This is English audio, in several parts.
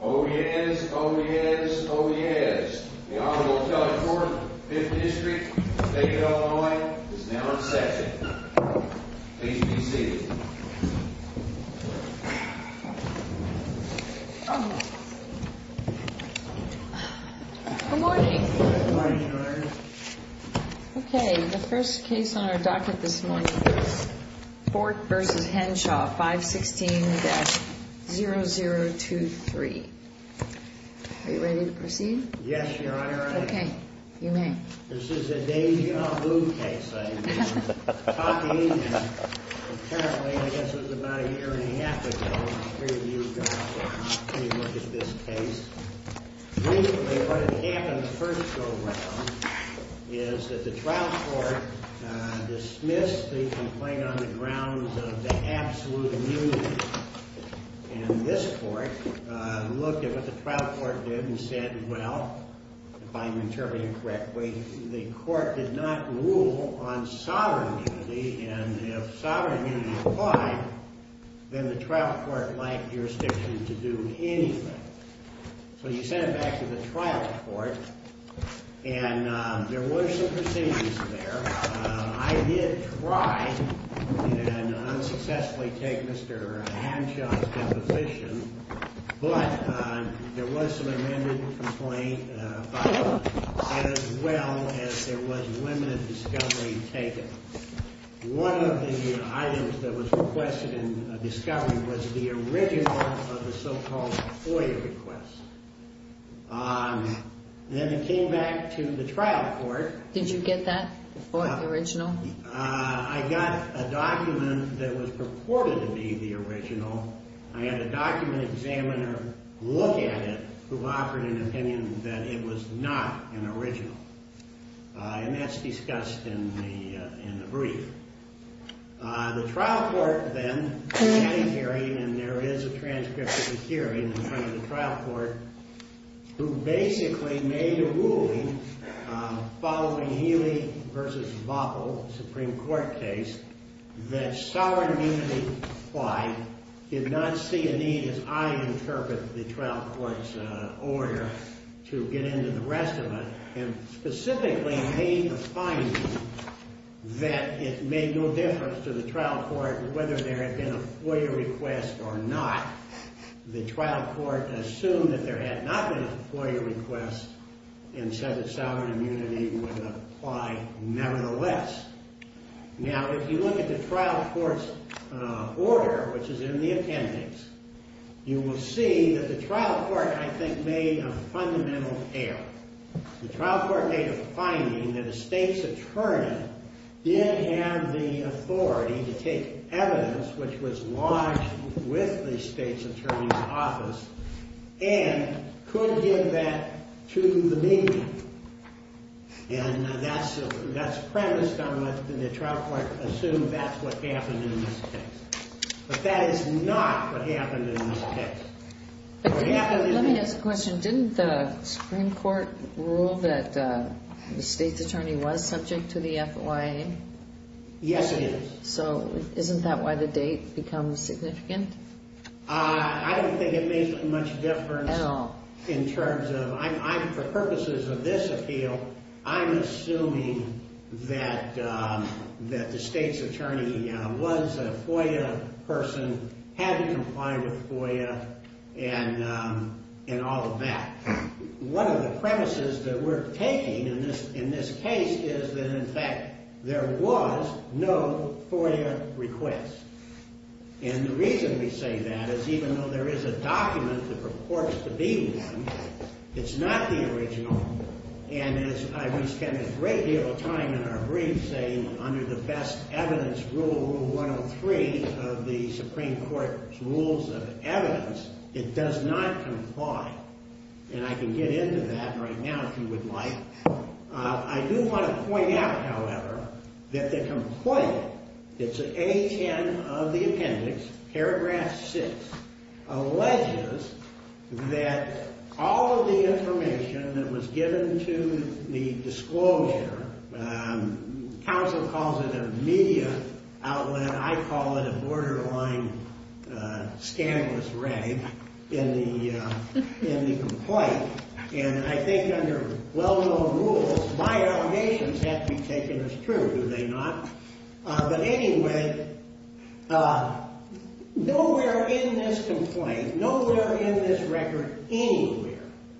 Oh yes, oh yes, oh yes. The Honorable Kelly Ford, 5th District, State of Illinois, is now in session. Please be seated. Good morning. Good morning, Your Honor. Okay, the first case on our docket this morning, Ford v. Henshaw, 516-0023. Are you ready to proceed? Yes, Your Honor, I am. Okay, you may. This is a daisy-on-a-boo case, I imagine. Apparently, I guess it was about a year and a half ago, the three of you got to take a look at this case. Basically, what had happened the first go-round is that the trial court dismissed the complaint on the grounds of the absolute immunity. And this court looked at what the trial court did and said, well, if I'm interpreting correctly, the court did not rule on sovereign immunity, and if sovereign immunity applied, then the trial court lacked jurisdiction to do anything. So you sent it back to the trial court, and there were some proceedings there. I did try and unsuccessfully take Mr. Henshaw's deposition, but there was some amended complaint filed, as well as there was limited discovery taken. One of the items that was requested in discovery was the original of the so-called FOIA request. Then it came back to the trial court. Did you get that, the FOIA, the original? I got a document that was purported to be the original. I had a document examiner look at it, who offered an opinion that it was not an original. And that's discussed in the brief. The trial court then came hearing, and there is a transcript of the hearing in front of the trial court, who basically made a ruling following Healy v. Vopel, the Supreme Court case, that sovereign immunity applied, did not see a need, as I interpret the trial court's order, to get into the rest of it, and specifically made a finding that it made no difference to the trial court whether there had been a FOIA request or not. The trial court assumed that there had not been a FOIA request, and said that sovereign immunity would apply nevertheless. Now, if you look at the trial court's order, which is in the appendix, you will see that the trial court, I think, made a fundamental error. The trial court made a finding that a state's attorney didn't have the authority to take evidence which was lodged with the state's attorney's office and could give that to the media. And that's premised on what the trial court assumed that's what happened in this case. But that is not what happened in this case. Let me ask a question. Didn't the Supreme Court rule that the state's attorney was subject to the FOIA? Yes, it is. So isn't that why the date becomes significant? I don't think it makes much difference in terms of, for purposes of this appeal, I'm assuming that the state's attorney was a FOIA person, had been compliant with FOIA, and all of that. One of the premises that we're taking in this case is that, in fact, there was no FOIA request. And the reason we say that is even though there is a document that purports to be one, it's not the original. And as we spend a great deal of time in our briefs saying, under the best evidence rule 103 of the Supreme Court's rules of evidence, it does not comply. And I can get into that right now if you would like. I do want to point out, however, that the complaint, it's A10 of the appendix, paragraph 6, alleges that all of the information that was given to the disclosure, counsel calls it a media outlet, I call it a borderline scandalous rave in the complaint. And I think under well-known rules, my allegations have to be taken as true, do they not? But anyway, nowhere in this complaint, nowhere in this record anywhere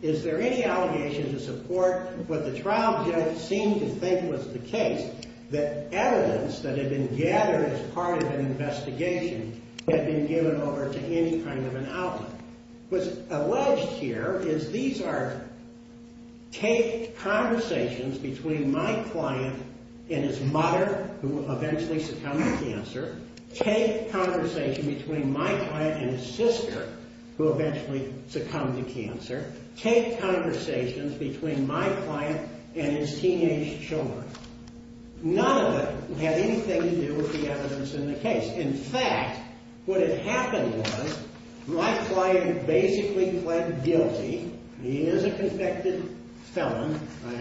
is there any allegation to support what the trial judge seemed to think was the case, that evidence that had been gathered as part of an investigation had been given over to any kind of an outlet. What's alleged here is these are taped conversations between my client and his mother, who eventually succumbed to cancer, taped conversations between my client and his sister, who eventually succumbed to cancer, taped conversations between my client and his teenage children. None of it had anything to do with the evidence in the case. In fact, what had happened was my client basically pled guilty. He is a convicted felon. I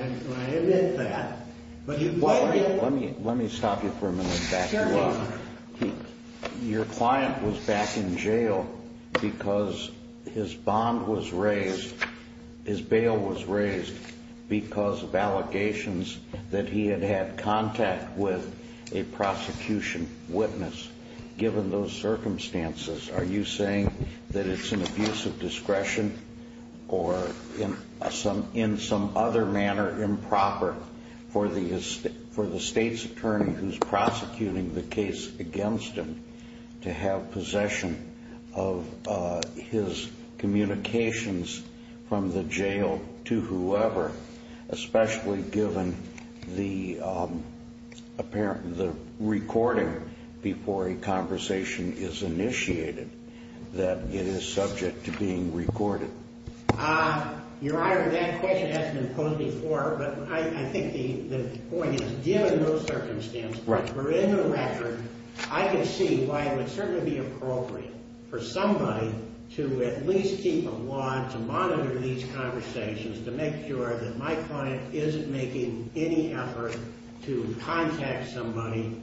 admit that. Let me stop you for a minute and back you up. Your client was back in jail because his bond was raised, his bail was raised, because of allegations that he had had contact with a prosecution witness, given those circumstances. Are you saying that it's an abuse of discretion or in some other manner improper for the state's attorney who's prosecuting the case against him to have possession of his communications from the jail to whoever, especially given the recording before a conversation is initiated that it is subject to being recorded? Your Honor, that question hasn't been posed before, but I think the point is, given those circumstances, for the record, I can see why it would certainly be appropriate for somebody to at least keep a watch and monitor these conversations to make sure that my client isn't making any effort to contact somebody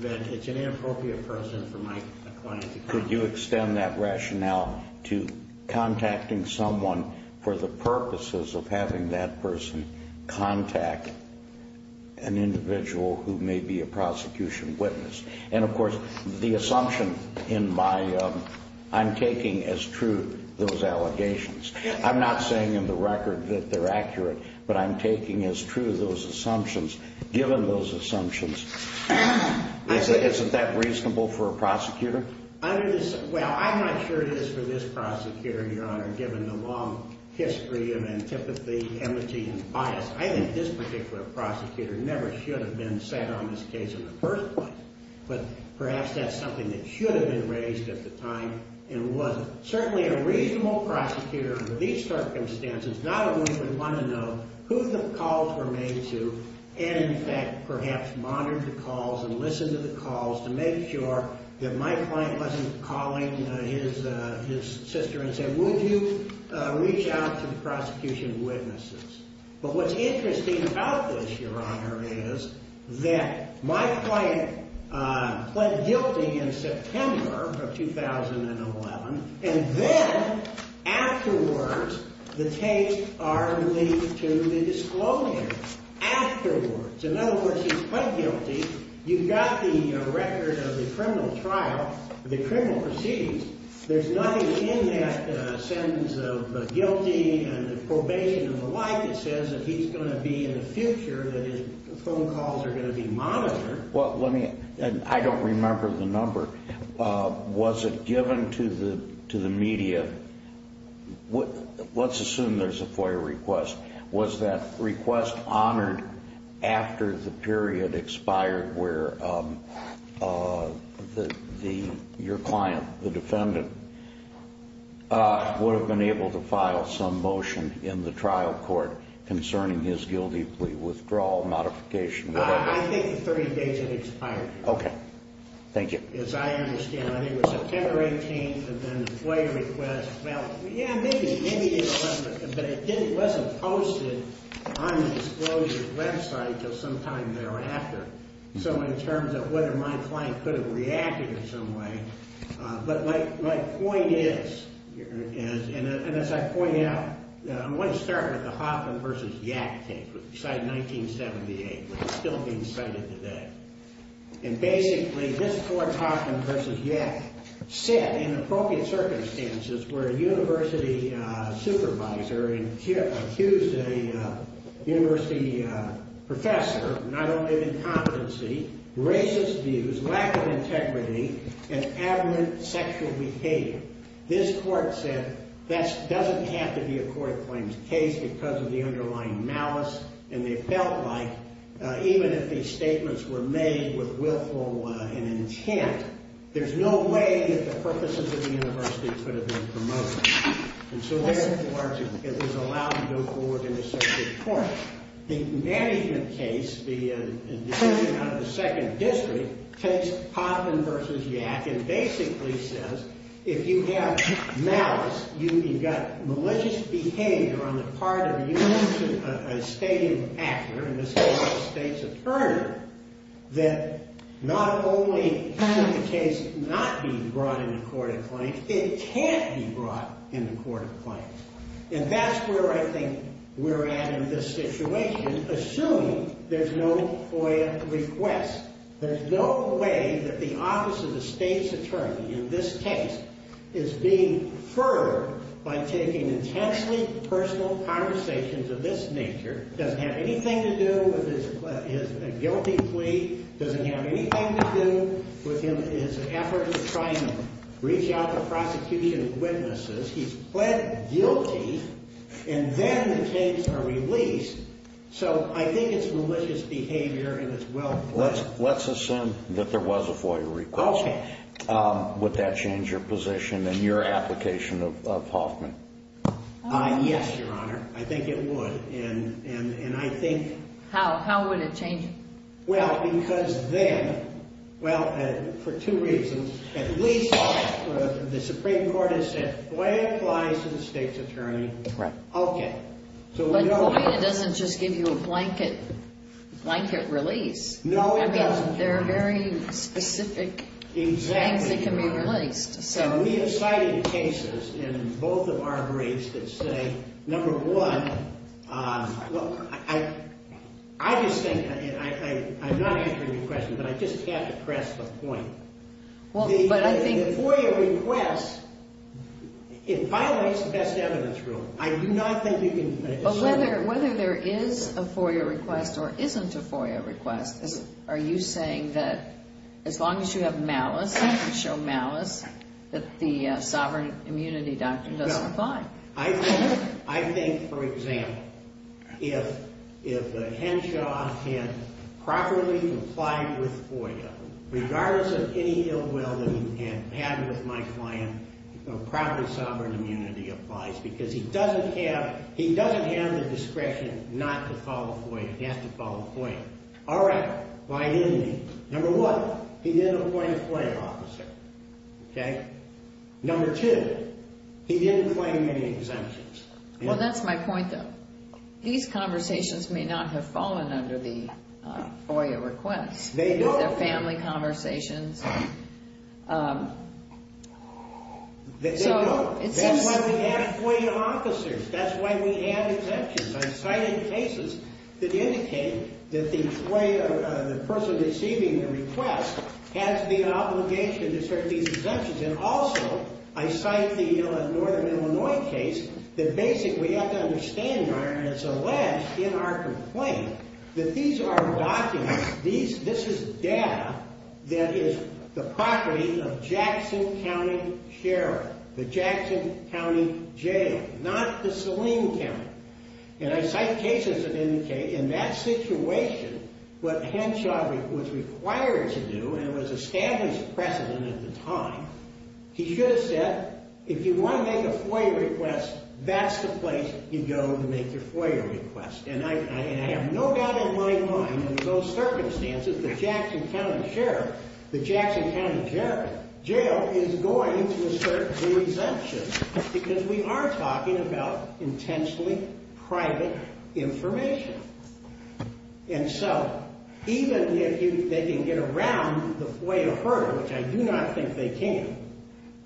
that it's an inappropriate person for my client to contact. Could you extend that rationale to contacting someone for the purposes of having that person contact an individual who may be a prosecution witness? And of course, the assumption in my, I'm taking as true those allegations. I'm not saying in the record that they're accurate, but I'm taking as true those assumptions, given those assumptions. Isn't that reasonable for a prosecutor? Well, I'm not sure it is for this prosecutor, Your Honor, given the long history of antipathy, amnesty, and bias. I think this particular prosecutor never should have been sat on this case in the first place, but perhaps that's something that should have been raised at the time and wasn't. Certainly a reasonable prosecutor under these circumstances, not a woman would want to know who the calls were made to and, in fact, perhaps monitor the calls and listen to the calls to make sure that my client wasn't calling his sister and saying, would you reach out to the prosecution witnesses? But what's interesting about this, Your Honor, is that my client pled guilty in September of 2011, and then afterwards the tapes are linked to the disclosure. Afterwards. In other words, he pled guilty. You've got the record of the criminal trial, the criminal proceedings. There's nothing in that sentence of guilty and probation and the like that says that he's going to be in the future, that his phone calls are going to be monitored. Well, let me – and I don't remember the number. Was it given to the media – let's assume there's a FOIA request. Was that request honored after the period expired where your client, the defendant, would have been able to file some motion in the trial court concerning his guilty withdrawal, modification, whatever? I think the 30 days had expired. Okay. Thank you. As I understand, I think it was September 18th and then the FOIA request. Well, yeah, maybe in November. But it wasn't posted on the disclosure website until sometime thereafter. So in terms of whether my client could have reacted in some way, but my point is – and as I point out, I'm going to start with the Hoffman v. Yack case. It was decided in 1978, but it's still being cited today. And basically, this court, Hoffman v. Yack, set in appropriate circumstances where a university supervisor accused a university professor of not only incompetency, racist views, lack of integrity, and abhorrent sexual behavior. This court said that doesn't have to be a court-claimed case because of the underlying malice, and they felt like even if these statements were made with willful and intent, there's no way that the purposes of the university could have been promoted. And so therefore, it was allowed to go forward in this circuit court. The management case, the decision out of the second district, takes Hoffman v. Yack and basically says if you have malice, you've got malicious behavior on the part of a university, a state actor, in this case a state's attorney, that not only can the case not be brought into court of claim, it can't be brought into court of claim. And that's where I think we're at in this situation, assuming there's no FOIA request. There's no way that the office of the state's attorney in this case is being furred by taking intensely personal conversations of this nature. It doesn't have anything to do with his guilty plea. It doesn't have anything to do with his effort to try and reach out to prosecution witnesses. He's pled guilty, and then the cases are released. So I think it's malicious behavior and it's well-planned. Let's assume that there was a FOIA request. Okay. Would that change your position in your application of Hoffman? Yes, Your Honor. I think it would. And I think… How? How would it change it? Well, because then… Well, for two reasons. At least the Supreme Court has said FOIA applies to the state's attorney. Right. Okay. But FOIA doesn't just give you a blanket release. No, it doesn't. I mean, there are very specific things that can be released. Exactly. And we have cited cases in both of our breaks that say, number one, look, I just think, and I'm not answering your question, but I just have to press the point. Well, but I think… The FOIA request, it violates the best evidence rule. I do not think you can… Well, whether there is a FOIA request or isn't a FOIA request, are you saying that as long as you have malice, you show malice, that the sovereign immunity doctrine doesn't apply? No. I think, for example, if the Henshaw had properly applied with FOIA, regardless of any ill will that he had had with my client, a properly sovereign immunity applies because he doesn't have the discretion not to follow FOIA. He has to follow FOIA. All right. Why didn't he? Number one, he didn't appoint a FOIA officer. Okay? Number two, he didn't claim any exemptions. Well, that's my point, though. These conversations may not have fallen under the FOIA request. They don't. They're family conversations. They don't. That's why we have FOIA officers. That's why we have exemptions. I cited cases that indicate that the FOIA, the person receiving the request, has the obligation to serve these exemptions. And also, I cited the Northern Illinois case, that basically, we have to understand, and it's alleged in our complaint, that these are documents, this is data, that is the property of Jackson County Sheriff, the Jackson County Jail, not the Saleem County. And I cite cases that indicate, in that situation, what Henshaw was required to do, and was established precedent at the time, he should have said, if you want to make a FOIA request, that's the place you go to make your FOIA request. And I have no doubt in my mind, in those circumstances, the Jackson County Sheriff, the Jackson County Jail, is going to assert the exemptions, because we are talking about intentionally private information. And so, even if they can get around the FOIA hurdle, which I do not think they can,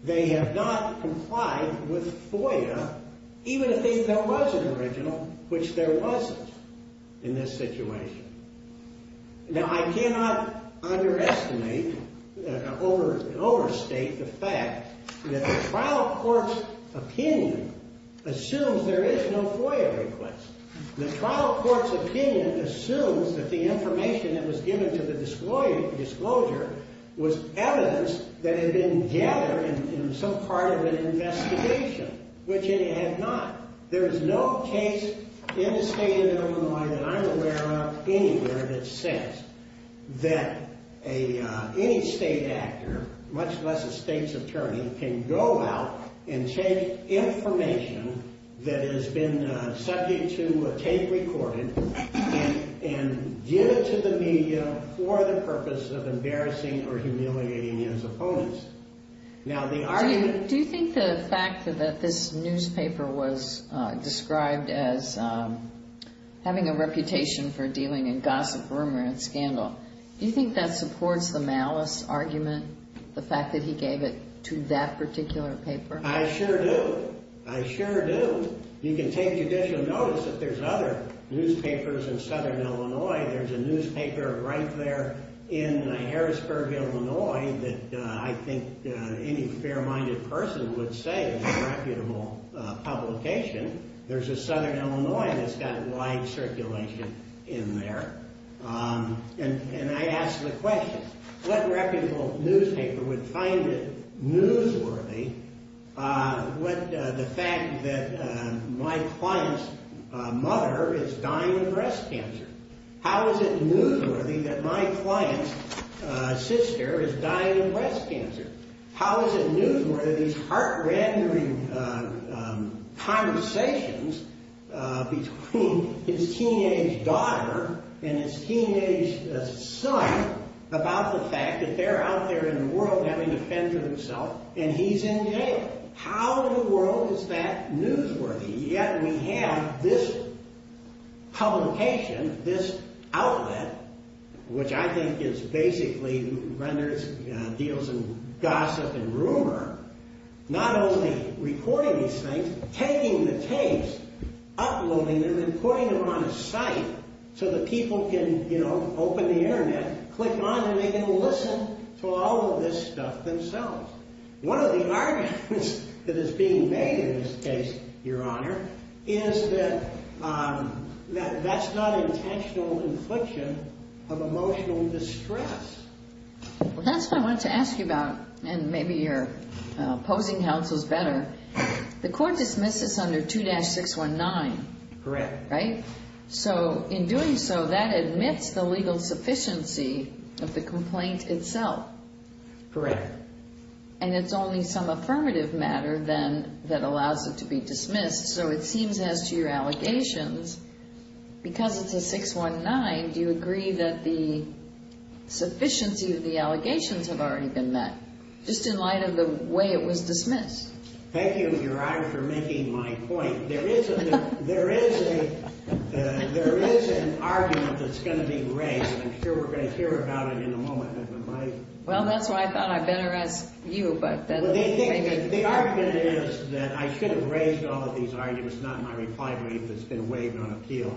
they have not complied with FOIA, even if there was an original, which there wasn't in this situation. Now, I cannot underestimate, overstate the fact that the trial court's opinion assumes there is no FOIA request. The trial court's opinion assumes that the information that was given to the disclosure was evidence that had been gathered in some part of an investigation, which it had not. There is no case in the state of Illinois that I'm aware of anywhere that says that any state actor, much less a state's attorney, can go out and take information that has been subject to judicial notice. And so, I'm asking you to take, record it, and give it to the media for the purpose of embarrassing or humiliating his opponents. Now, the argument... Do you think the fact that this newspaper was described as having a reputation for dealing in gossip, rumor, and scandal, do you think that supports the malice argument, the fact that he gave it to that particular paper? I sure do. I sure do. You can take judicial notice if there's other newspapers in Southern Illinois. There's a newspaper right there in Harrisburg, Illinois, that I think any fair-minded person would say is a reputable publication. There's a Southern Illinois that's got wide circulation in there. And I ask the question, what reputable newspaper would find it newsworthy? The fact that my client's mother is dying of breast cancer. How is it newsworthy that my client's sister is dying of breast cancer? How is it newsworthy that these heart-rendering conversations between his teenage daughter and his teenage son about the fact that they're out there in the world having to fend for themselves, and he's in jail? How in the world is that newsworthy? Yet we have this publication, this outlet, which I think basically renders deals in gossip and rumor, not only recording these things, taking the tapes, uploading them, and putting them on a site so that people can open the internet, click on them, and they can listen to all of this stuff themselves. One of the arguments that is being made in this case, Your Honor, is that that's not intentional infliction of emotional distress. Well, that's what I wanted to ask you about, and maybe you're opposing counsels better. The court dismisses under 2-619. Correct. Right? So in doing so, that admits the legal sufficiency of the complaint itself. Correct. And it's only some affirmative matter, then, that allows it to be dismissed. So it seems as to your allegations, because it's a 619, do you agree that the sufficiency of the allegations have already been met, just in light of the way it was dismissed? Thank you, Your Honor, for making my point. There is an argument that's going to be raised, and I'm sure we're going to hear about it in a moment. Well, that's why I thought I'd better ask you. The argument is that I should have raised all of these arguments, not my reply brief that's been waived on appeal.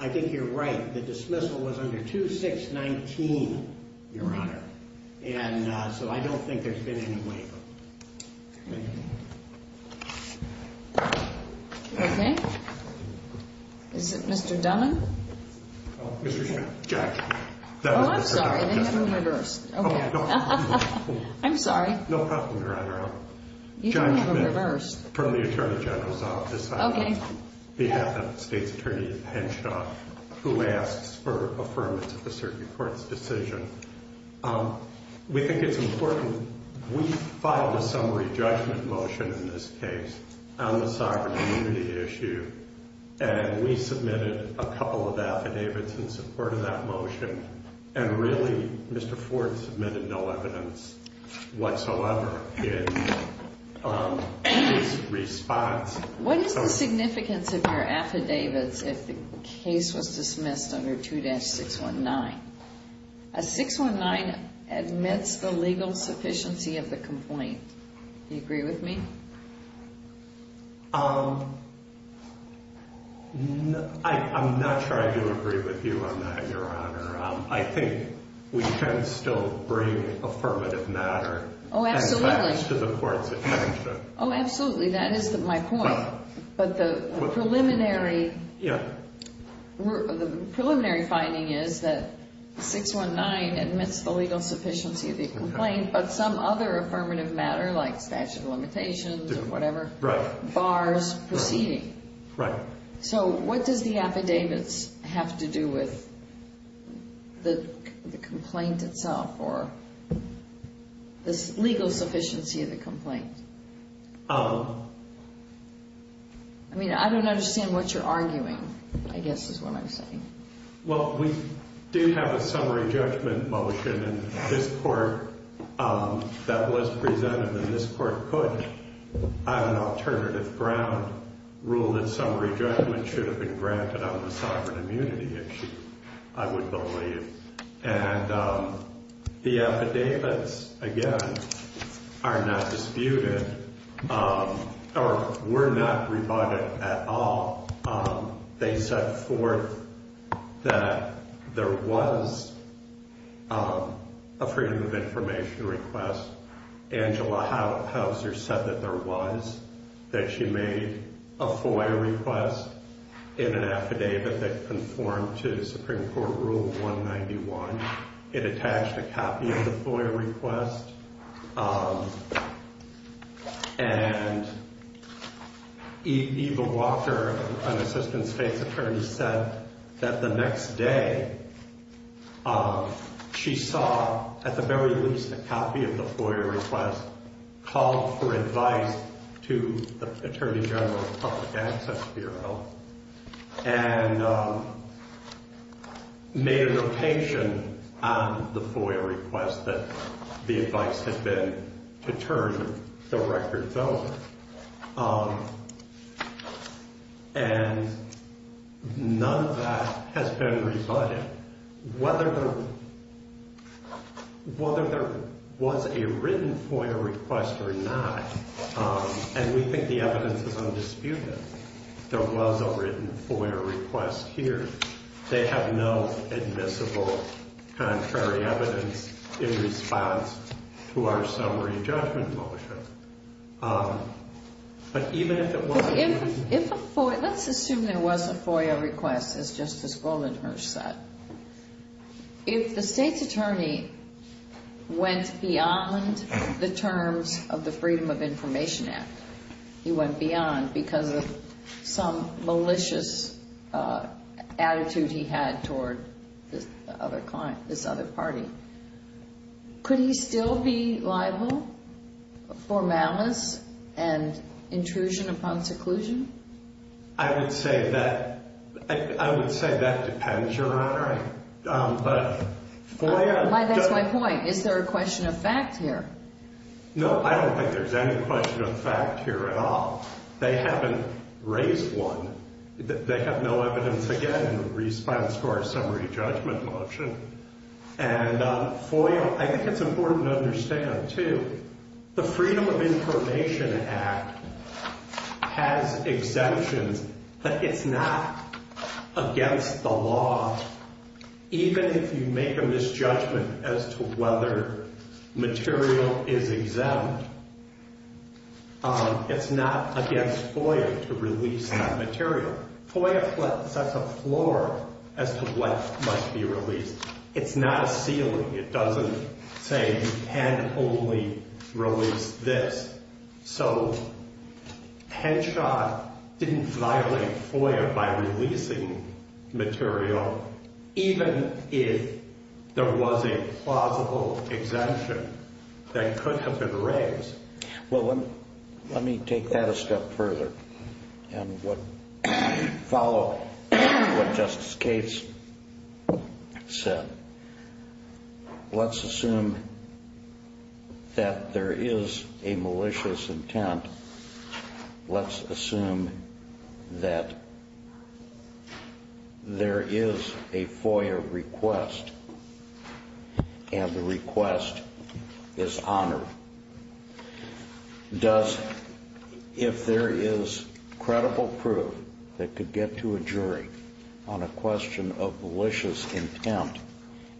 I think you're right. The dismissal was under 2-619, Your Honor. And so I don't think there's been any waive of it. Thank you. Okay. Is it Mr. Dunman? Mr. Chairman. Judge. Oh, I'm sorry. They have them reversed. Okay. I'm sorry. No problem, Your Honor. You don't have them reversed. From the Attorney General's office. Okay. On behalf of the State's Attorney, Henshaw, who asks for affirmance of the Circuit Court's decision, we think it's important. We filed a summary judgment motion in this case on the sovereign immunity issue, and we submitted a couple of affidavits in support of that motion, and really, Mr. Ford submitted no evidence whatsoever in his response. What is the significance of your affidavits if the case was dismissed under 2-619? A 619 admits the legal sufficiency of the complaint. Do you agree with me? I'm not trying to agree with you on that, Your Honor. I think we can still bring affirmative matter and facts to the Court's attention. Oh, absolutely. That is my point. But the preliminary finding is that 619 admits the legal sufficiency of the complaint, but some other affirmative matter, like statute of limitations or whatever, bars proceeding. Right. So what does the affidavits have to do with the complaint itself or the legal sufficiency of the complaint? I mean, I don't understand what you're arguing, I guess, is what I'm saying. Well, we do have a summary judgment motion in this Court that was presented, and this Court could, on an alternative ground, rule that summary judgment should have been granted on the sovereign immunity issue, I would believe. And the affidavits, again, are not disputed or were not rebutted at all. They set forth that there was a freedom of information request. Angela Hauser said that there was, that she made a FOIA request in an affidavit that conformed to Supreme Court Rule 191. It attached a copy of the FOIA request, and Eva Walker, an Assistant State's Attorney, said that the next day she saw, at the very least, a copy of the FOIA request, called for advice to the Attorney General of the Public Access Bureau. And made a notation on the FOIA request that the advice had been to turn the records over. And none of that has been rebutted. Whether there was a written FOIA request or not, and we think the evidence is undisputed, there was a written FOIA request here. They have no admissible contrary evidence in response to our summary judgment motion. But even if it wasn't written... But if a FOIA, let's assume there was a FOIA request, as Justice Goldenberg said. If the State's Attorney went beyond the terms of the Freedom of Information Act, he went with some malicious attitude he had toward this other party, could he still be liable for malice and intrusion upon seclusion? I would say that depends, Your Honor. That's my point. Is there a question of fact here? No, I don't think there's any question of fact here at all. They haven't raised one. They have no evidence, again, in response to our summary judgment motion. And FOIA, I think it's important to understand, too, the Freedom of Information Act has exemptions, but it's not against the law, even if you make a misjudgment as to whether material is exempt. It's not against FOIA to release that material. FOIA sets a floor as to what must be released. It's not a ceiling. It doesn't say you can only release this. So Henshaw didn't violate FOIA by releasing material, even if there was a plausible exemption that could have been raised. Well, let me take that a step further and follow what Justice Gates said. Let's assume that there is a malicious intent. Let's assume that there is a FOIA request and the request is honored. If there is credible proof that could get to a jury on a question of malicious intent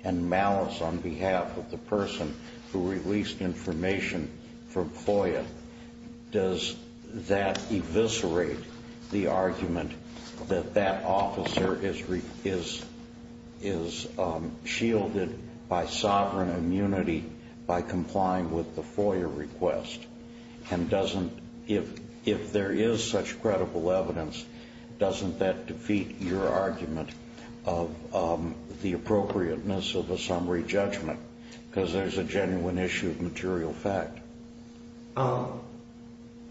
and malice on behalf of the person who released information from FOIA, does that eviscerate the argument that that officer is shielded by sovereign immunity by complying with the FOIA request? And if there is such credible evidence, doesn't that defeat your argument of the appropriateness of a summary judgment because there's a genuine issue of material fact?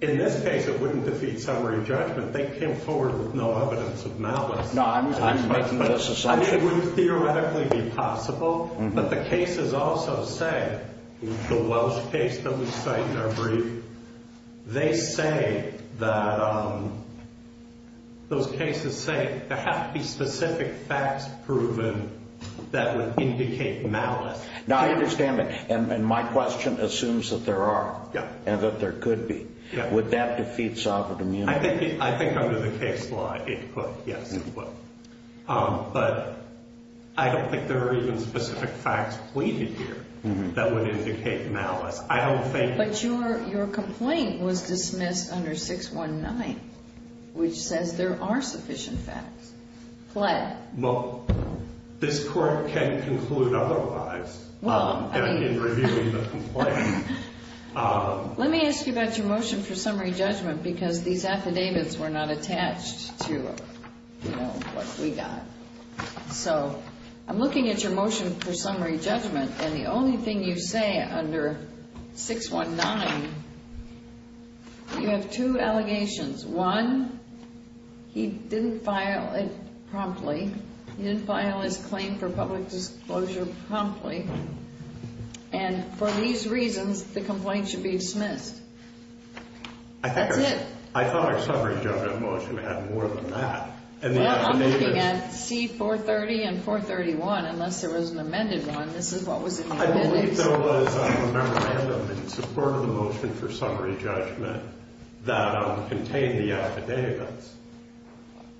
In this case, it wouldn't defeat summary judgment. They came forward with no evidence of malice. No, I'm making this assumption. It would theoretically be possible, but the cases also say, the Welsh case that we cite in our brief, they say that those cases say there have to be specific facts proven that would indicate malice. Now, I understand that, and my question assumes that there are and that there could be. Would that defeat sovereign immunity? I think under the case law it would, yes, it would. But I don't think there are even specific facts pleaded here that would indicate malice. I don't think. But your complaint was dismissed under 619, which says there are sufficient facts pled. Well, this court can conclude otherwise in reviewing the complaint. Let me ask you about your motion for summary judgment because these affidavits were not attached to what we got. So I'm looking at your motion for summary judgment, and the only thing you say under 619, you have two allegations. One, he didn't file it promptly. He didn't file his claim for public disclosure promptly. And for these reasons, the complaint should be dismissed. That's it. I thought our summary judgment motion had more than that. Well, I'm looking at C430 and 431, unless there was an amended one. This is what was in the amendments. I believe there was a memorandum in support of the motion for summary judgment that contained the affidavits.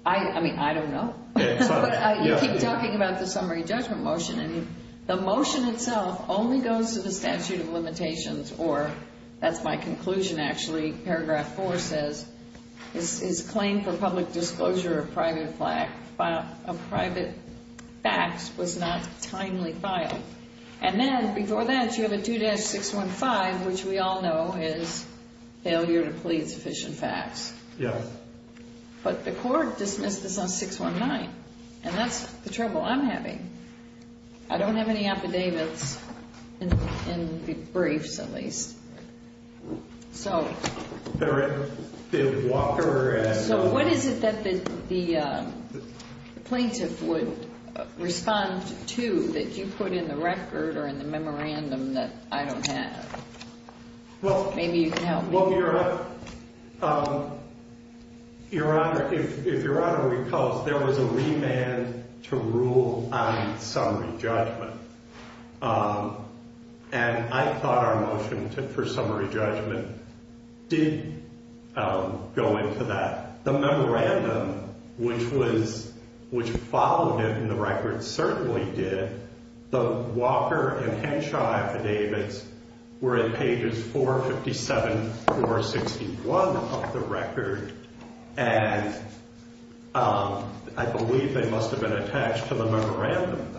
I mean, I don't know. You keep talking about the summary judgment motion, and the motion itself only goes to the statute of limitations, or that's my conclusion, actually. Paragraph 4 says his claim for public disclosure of private facts was not timely filed. And then before that, you have a 2-615, which we all know is failure to plead sufficient facts. Yes. But the court dismissed this on 619, and that's the trouble I'm having. I don't have any affidavits, in briefs at least. So what is it that the plaintiff would respond to that you put in the record or in the memorandum that I don't have? Maybe you can help me. Well, Your Honor, if Your Honor recalls, there was a remand to rule on summary judgment. And I thought our motion for summary judgment did go into that. The memorandum, which followed it in the record, certainly did. The Walker and Henshaw affidavits were in pages 457 through 461 of the record, and I believe they must have been attached to the memorandum.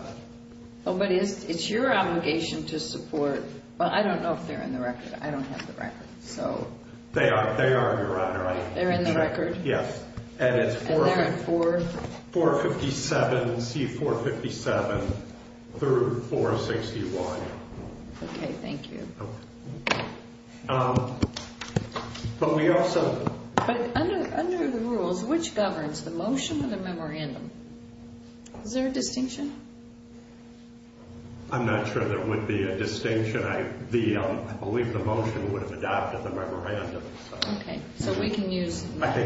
Oh, but it's your obligation to support. Well, I don't know if they're in the record. I don't have the record, so. They are, Your Honor. They're in the record? Yes. And they're in 457, C457, through 461. Okay, thank you. But we also. But under the rules, which governs, the motion or the memorandum? Is there a distinction? I'm not sure there would be a distinction. I believe the motion would have adopted the memorandum. Okay, so we can use both.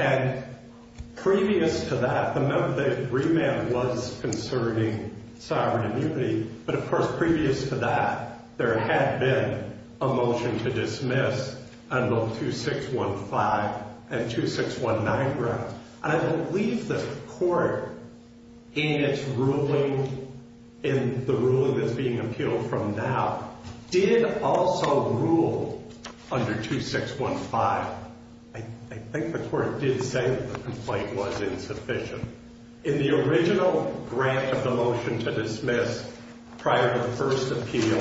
And previous to that, the remand was concerning sovereign immunity, but, of course, previous to that, there had been a motion to dismiss on both 2615 and 2619 grounds. And I believe the court, in its ruling, in the ruling that's being appealed from now, did also rule under 2615. I think the court did say that the complaint was insufficient. In the original grant of the motion to dismiss prior to the first appeal,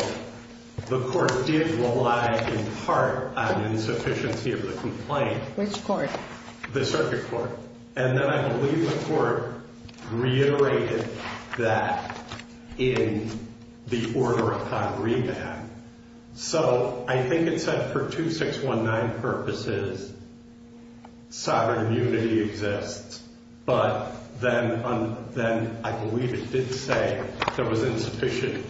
the court did rely in part on insufficiency of the complaint. Which court? The circuit court. And then I believe the court reiterated that in the order upon remand. So I think it said for 2619 purposes, sovereign immunity exists. But then I believe it did say there was insufficient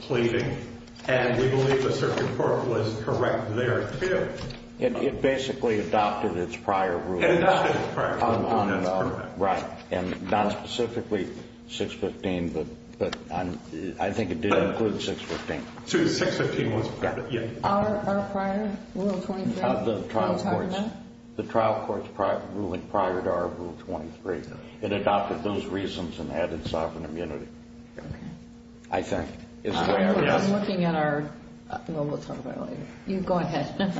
pleading. And we believe the circuit court was correct there, too. It basically adopted its prior rulings. Adopted its prior rulings. Right. And not specifically 615, but I think it did include 615. So 615 was prior. Our prior Rule 23? The trial court's ruling prior to our Rule 23. It adopted those reasons and added sovereign immunity. Okay. I think. I'm looking at our. We'll talk about it later. Go ahead.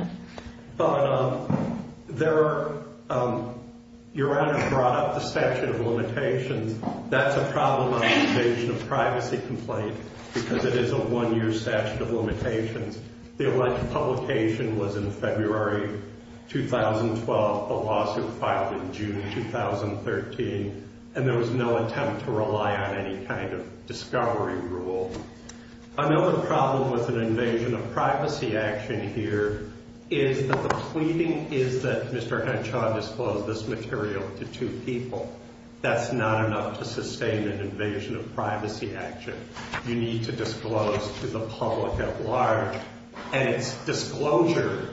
Your Honor brought up the statute of limitations. That's a problem on the invasion of privacy complaint, because it is a one-year statute of limitations. The elected publication was in February 2012. The lawsuit filed in June 2013. And there was no attempt to rely on any kind of discovery rule. Another problem with an invasion of privacy action here is that the pleading is that Mr. Henshaw disclosed this material to two people. That's not enough to sustain an invasion of privacy action. You need to disclose to the public at large. And it's disclosure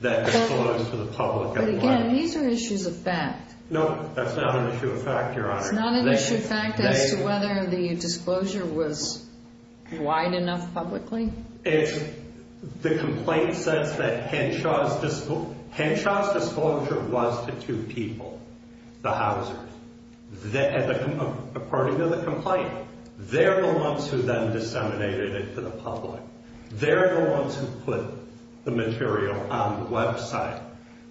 that discloses to the public at large. But, again, these are issues of fact. No, that's not an issue of fact, Your Honor. It's not an issue of fact as to whether the disclosure was wide enough publicly? If the complaint says that Henshaw's disclosure was to two people, the Housers, according to the complaint, they're the ones who then disseminated it to the public. They're the ones who put the material on the website.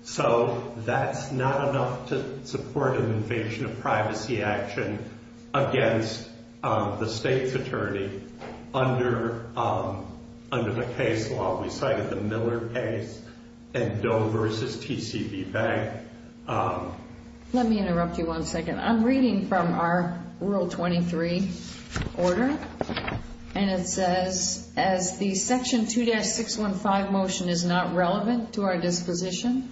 So that's not enough to support an invasion of privacy action against the state's attorney under the case law. We cited the Miller case and Doe v. TCB Bank. Let me interrupt you one second. I'm reading from our Rule 23 order. And it says, as the Section 2-615 motion is not relevant to our disposition,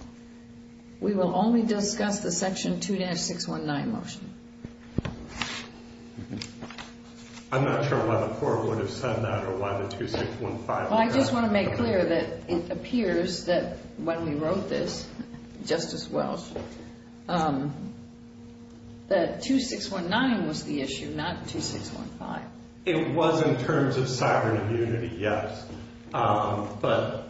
we will only discuss the Section 2-619 motion. I'm not sure why the court would have said that or why the 2-615. Well, I just want to make clear that it appears that when we wrote this, Justice Welch, that 2-619 was the issue, not 2-615. It was in terms of sovereign immunity, yes. But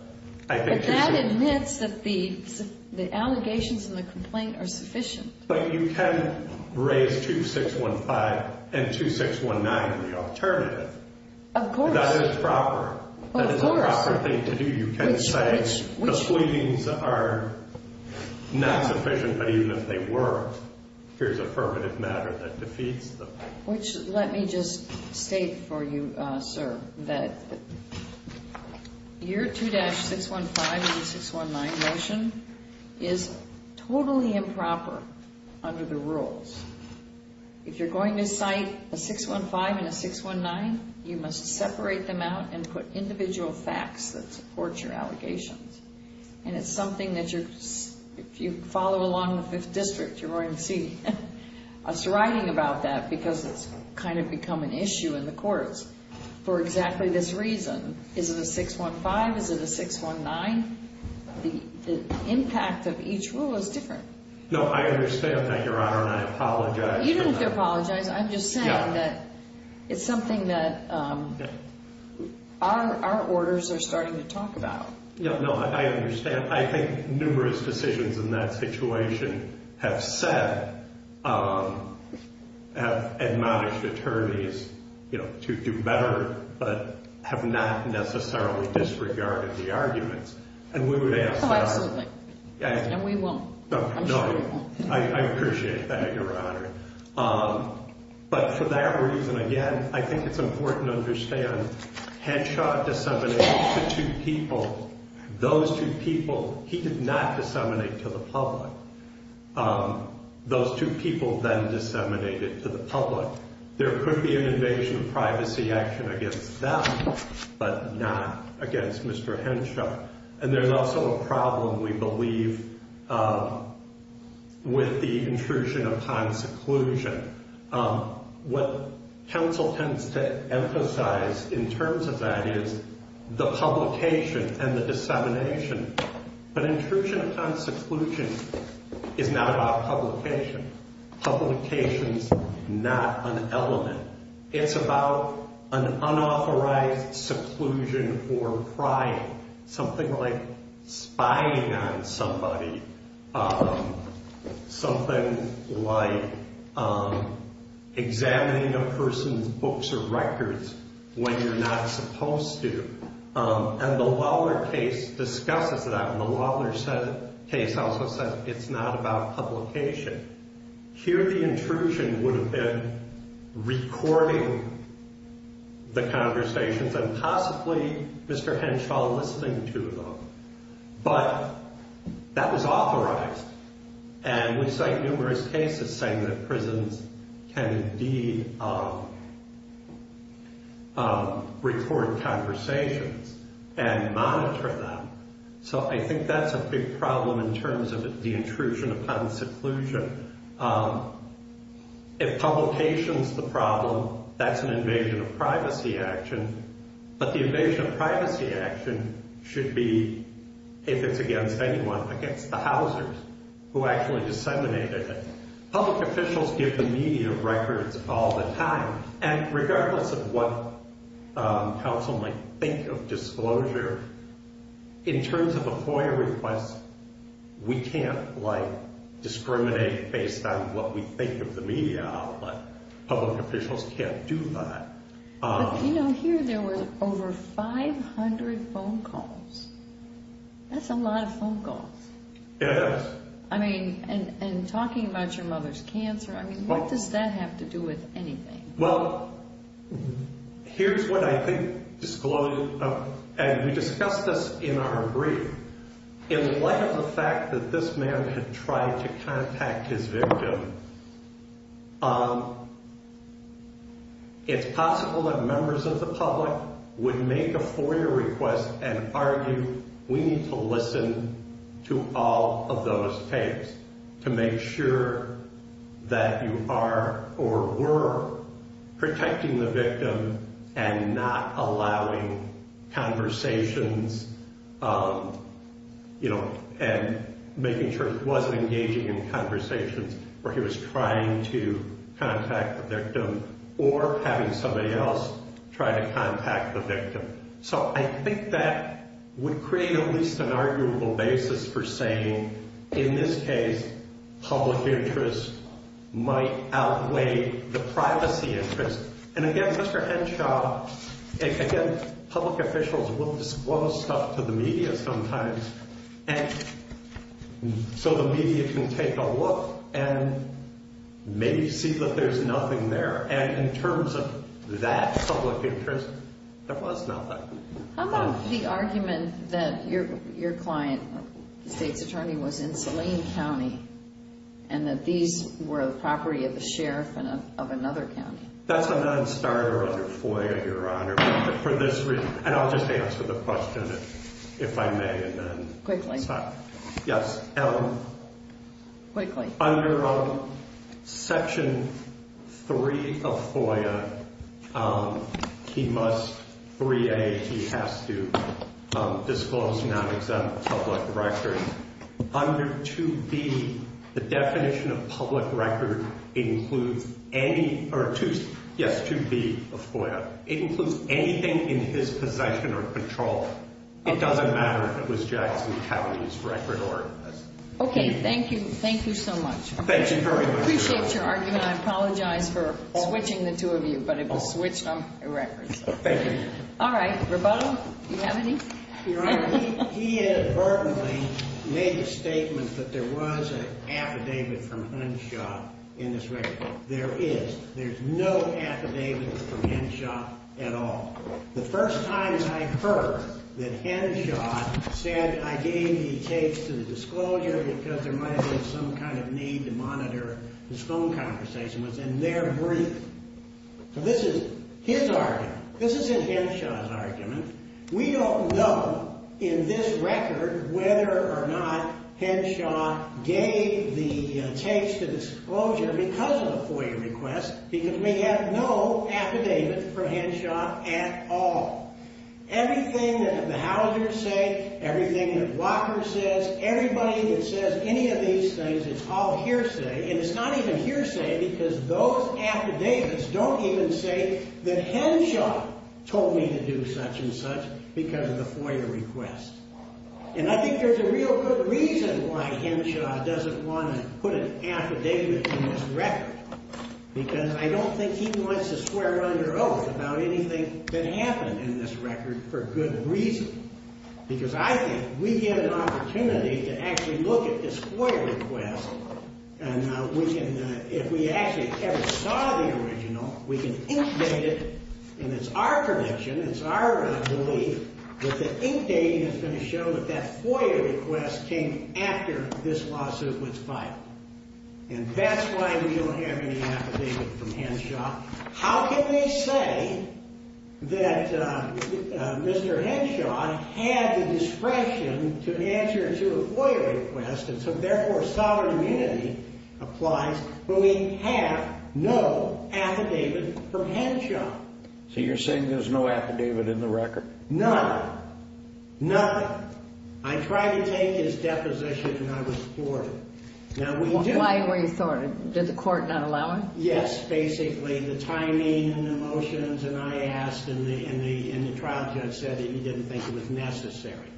I think 2-619. But that admits that the allegations in the complaint are sufficient. But you can raise 2-615 and 2-619 in the alternative. Of course. That is proper. That is a proper thing to do. You can say the sweetenings are not sufficient. But even if they were, here's affirmative matter that defeats the point. Let me just state for you, sir, that your 2-615 and 619 motion is totally improper under the rules. If you're going to cite a 615 and a 619, you must separate them out and put individual facts that support your allegations. And it's something that if you follow along the Fifth District, you're going to see us writing about that because it's kind of become an issue in the courts. For exactly this reason, is it a 615? Is it a 619? The impact of each rule is different. No, I understand that, Your Honor, and I apologize. You don't have to apologize. I'm just saying that it's something that our orders are starting to talk about. No, I understand. I think numerous decisions in that situation have said, have admonished attorneys to do better but have not necessarily disregarded the arguments. And we would ask that. Oh, absolutely. And we won't. No, I appreciate that, Your Honor. But for that reason, again, I think it's important to understand Henshaw disseminated to two people. Those two people he did not disseminate to the public. Those two people then disseminated to the public. There could be an invasion of privacy action against them but not against Mr. Henshaw. And there's also a problem, we believe, with the intrusion upon seclusion. What counsel tends to emphasize in terms of that is the publication and the dissemination. But intrusion upon seclusion is not about publication. Publication is not an element. It's about an unauthorized seclusion or prying, something like spying on somebody, something like examining a person's books or records when you're not supposed to. And the Lawler case discusses that. And the Lawler case also says it's not about publication. Here the intrusion would have been recording the conversations and possibly Mr. Henshaw listening to them. But that was authorized. And we cite numerous cases saying that prisons can indeed record conversations and monitor them. So I think that's a big problem in terms of the intrusion upon seclusion. If publication's the problem, that's an invasion of privacy action. But the invasion of privacy action should be, if it's against anyone, against the housers who actually disseminated it. Public officials give the media records all the time. And regardless of what counsel might think of disclosure, in terms of a FOIA request, we can't, like, discriminate based on what we think of the media outlet. Public officials can't do that. But, you know, here there was over 500 phone calls. That's a lot of phone calls. It is. I mean, and talking about your mother's cancer, I mean, what does that have to do with anything? Well, here's what I think disclosed, and we discussed this in our brief. In light of the fact that this man had tried to contact his victim, it's possible that members of the public would make a FOIA request and argue we need to listen to all of those tapes to make sure that you are or were protecting the victim and not allowing conversations, you know, and making sure he wasn't engaging in conversations where he was trying to contact the victim or having somebody else try to contact the victim. So I think that would create at least an arguable basis for saying, in this case, public interest might outweigh the privacy interest. And again, Mr. Henshaw, again, public officials will disclose stuff to the media sometimes so the media can take a look and maybe see that there's nothing there. And in terms of that public interest, there was nothing. How about the argument that your client, the state's attorney, was in Saline County and that these were the property of the sheriff of another county? That's a non-starter under FOIA, Your Honor, for this reason. And I'll just answer the question, if I may. Quickly. Yes. Quickly. Under Section 3 of FOIA, he must, 3A, he has to disclose non-exempt public records. Under 2B, the definition of public record includes any, or 2, yes, 2B of FOIA, it includes anything in his possession or control. It doesn't matter if it was Jackson County's record or his. Okay, thank you. Thank you so much. Thank you very much. I appreciate your argument. I apologize for switching the two of you, but it was switched on a record. Thank you. All right. Roboto, do you have any? Your Honor, he inadvertently made the statement that there was an affidavit from Henshaw in this record. There is. There's no affidavit from Henshaw at all. The first time I heard that Henshaw said, I gave the tapes to the disclosure because there might have been some kind of need to monitor this phone conversation, was in their brief. So this is his argument. We don't know in this record whether or not Henshaw gave the tapes to disclosure because of a FOIA request because we have no affidavit from Henshaw at all. Everything that the Hausers say, everything that Walker says, everybody that says any of these things, it's all hearsay. And it's not even hearsay because those affidavits don't even say that Henshaw told me to do such and such because of the FOIA request. And I think there's a real good reason why Henshaw doesn't want to put an affidavit in this record because I don't think he wants to swear under oath about anything that happened in this record for good reason. Because I think we get an opportunity to actually look at this FOIA request and we can, if we actually ever saw the original, we can ink date it. And it's our prediction, it's our belief that the ink dating is going to show that that FOIA request came after this lawsuit was filed. And that's why we don't have any affidavit from Henshaw. Now, how can they say that Mr. Henshaw had the discretion to answer to a FOIA request and so therefore sovereign immunity applies when we have no affidavit from Henshaw? So you're saying there's no affidavit in the record? None. Nothing. I tried to take his deposition and I was thwarted. Why were you thwarted? Did the court not allow it? Yes, basically. The timing and the motions and I asked and the trial judge said he didn't think it was necessary.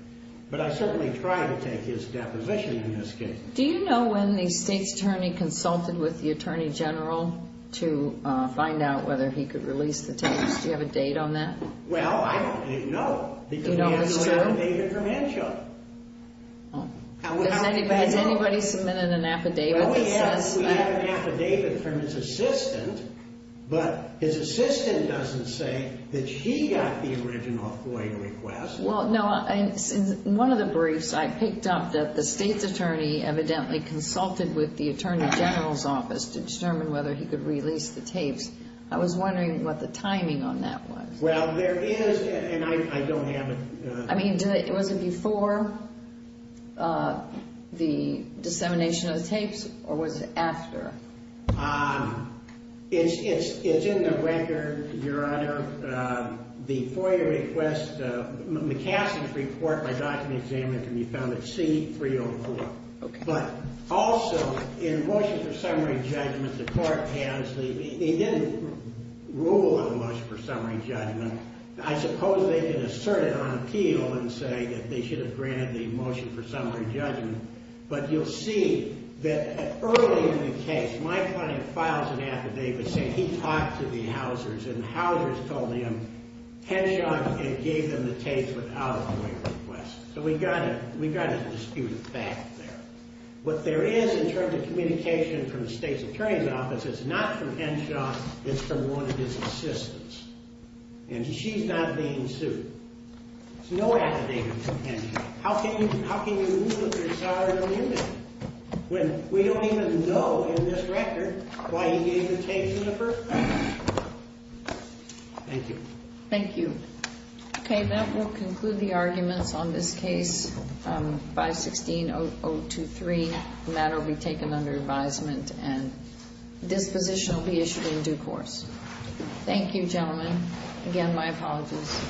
But I certainly tried to take his deposition in this case. Do you know when the State's Attorney consulted with the Attorney General to find out whether he could release the tapes? Do you have a date on that? Well, I don't know. Do you know for sure? Because we have an affidavit from Henshaw. Has anybody submitted an affidavit that says that? We have an affidavit from his assistant, but his assistant doesn't say that he got the original FOIA request. Well, no. In one of the briefs I picked up that the State's Attorney evidently consulted with the Attorney General's office to determine whether he could release the tapes. I was wondering what the timing on that was. Well, there is and I don't have it. I mean, was it before the dissemination of the tapes or was it after? It's in the record, Your Honor. The FOIA request, McCassey's report, my document examined can be found at C-304. But also, in motions of summary judgment, the court has, it didn't rule on the motions of summary judgment. I suppose they can assert it on appeal and say that they should have granted the motion for summary judgment. But you'll see that early in the case, my client files an affidavit saying he talked to the Housers and the Housers told him Henshaw gave them the tapes without a FOIA request. So we got a disputed fact there. What there is in terms of communication from the State's Attorney's office, it's not from Henshaw. It's from one of his assistants. And she's not being sued. There's no affidavit from Henshaw. How can you, how can you rule if you're sorry to lose it when we don't even know in this record why he gave the tapes in the first place? Thank you. Thank you. Okay. That will conclude the arguments on this case, 516-023. The matter will be taken under advisement and disposition will be issued in due course. Thank you, gentlemen. Again, my apologies.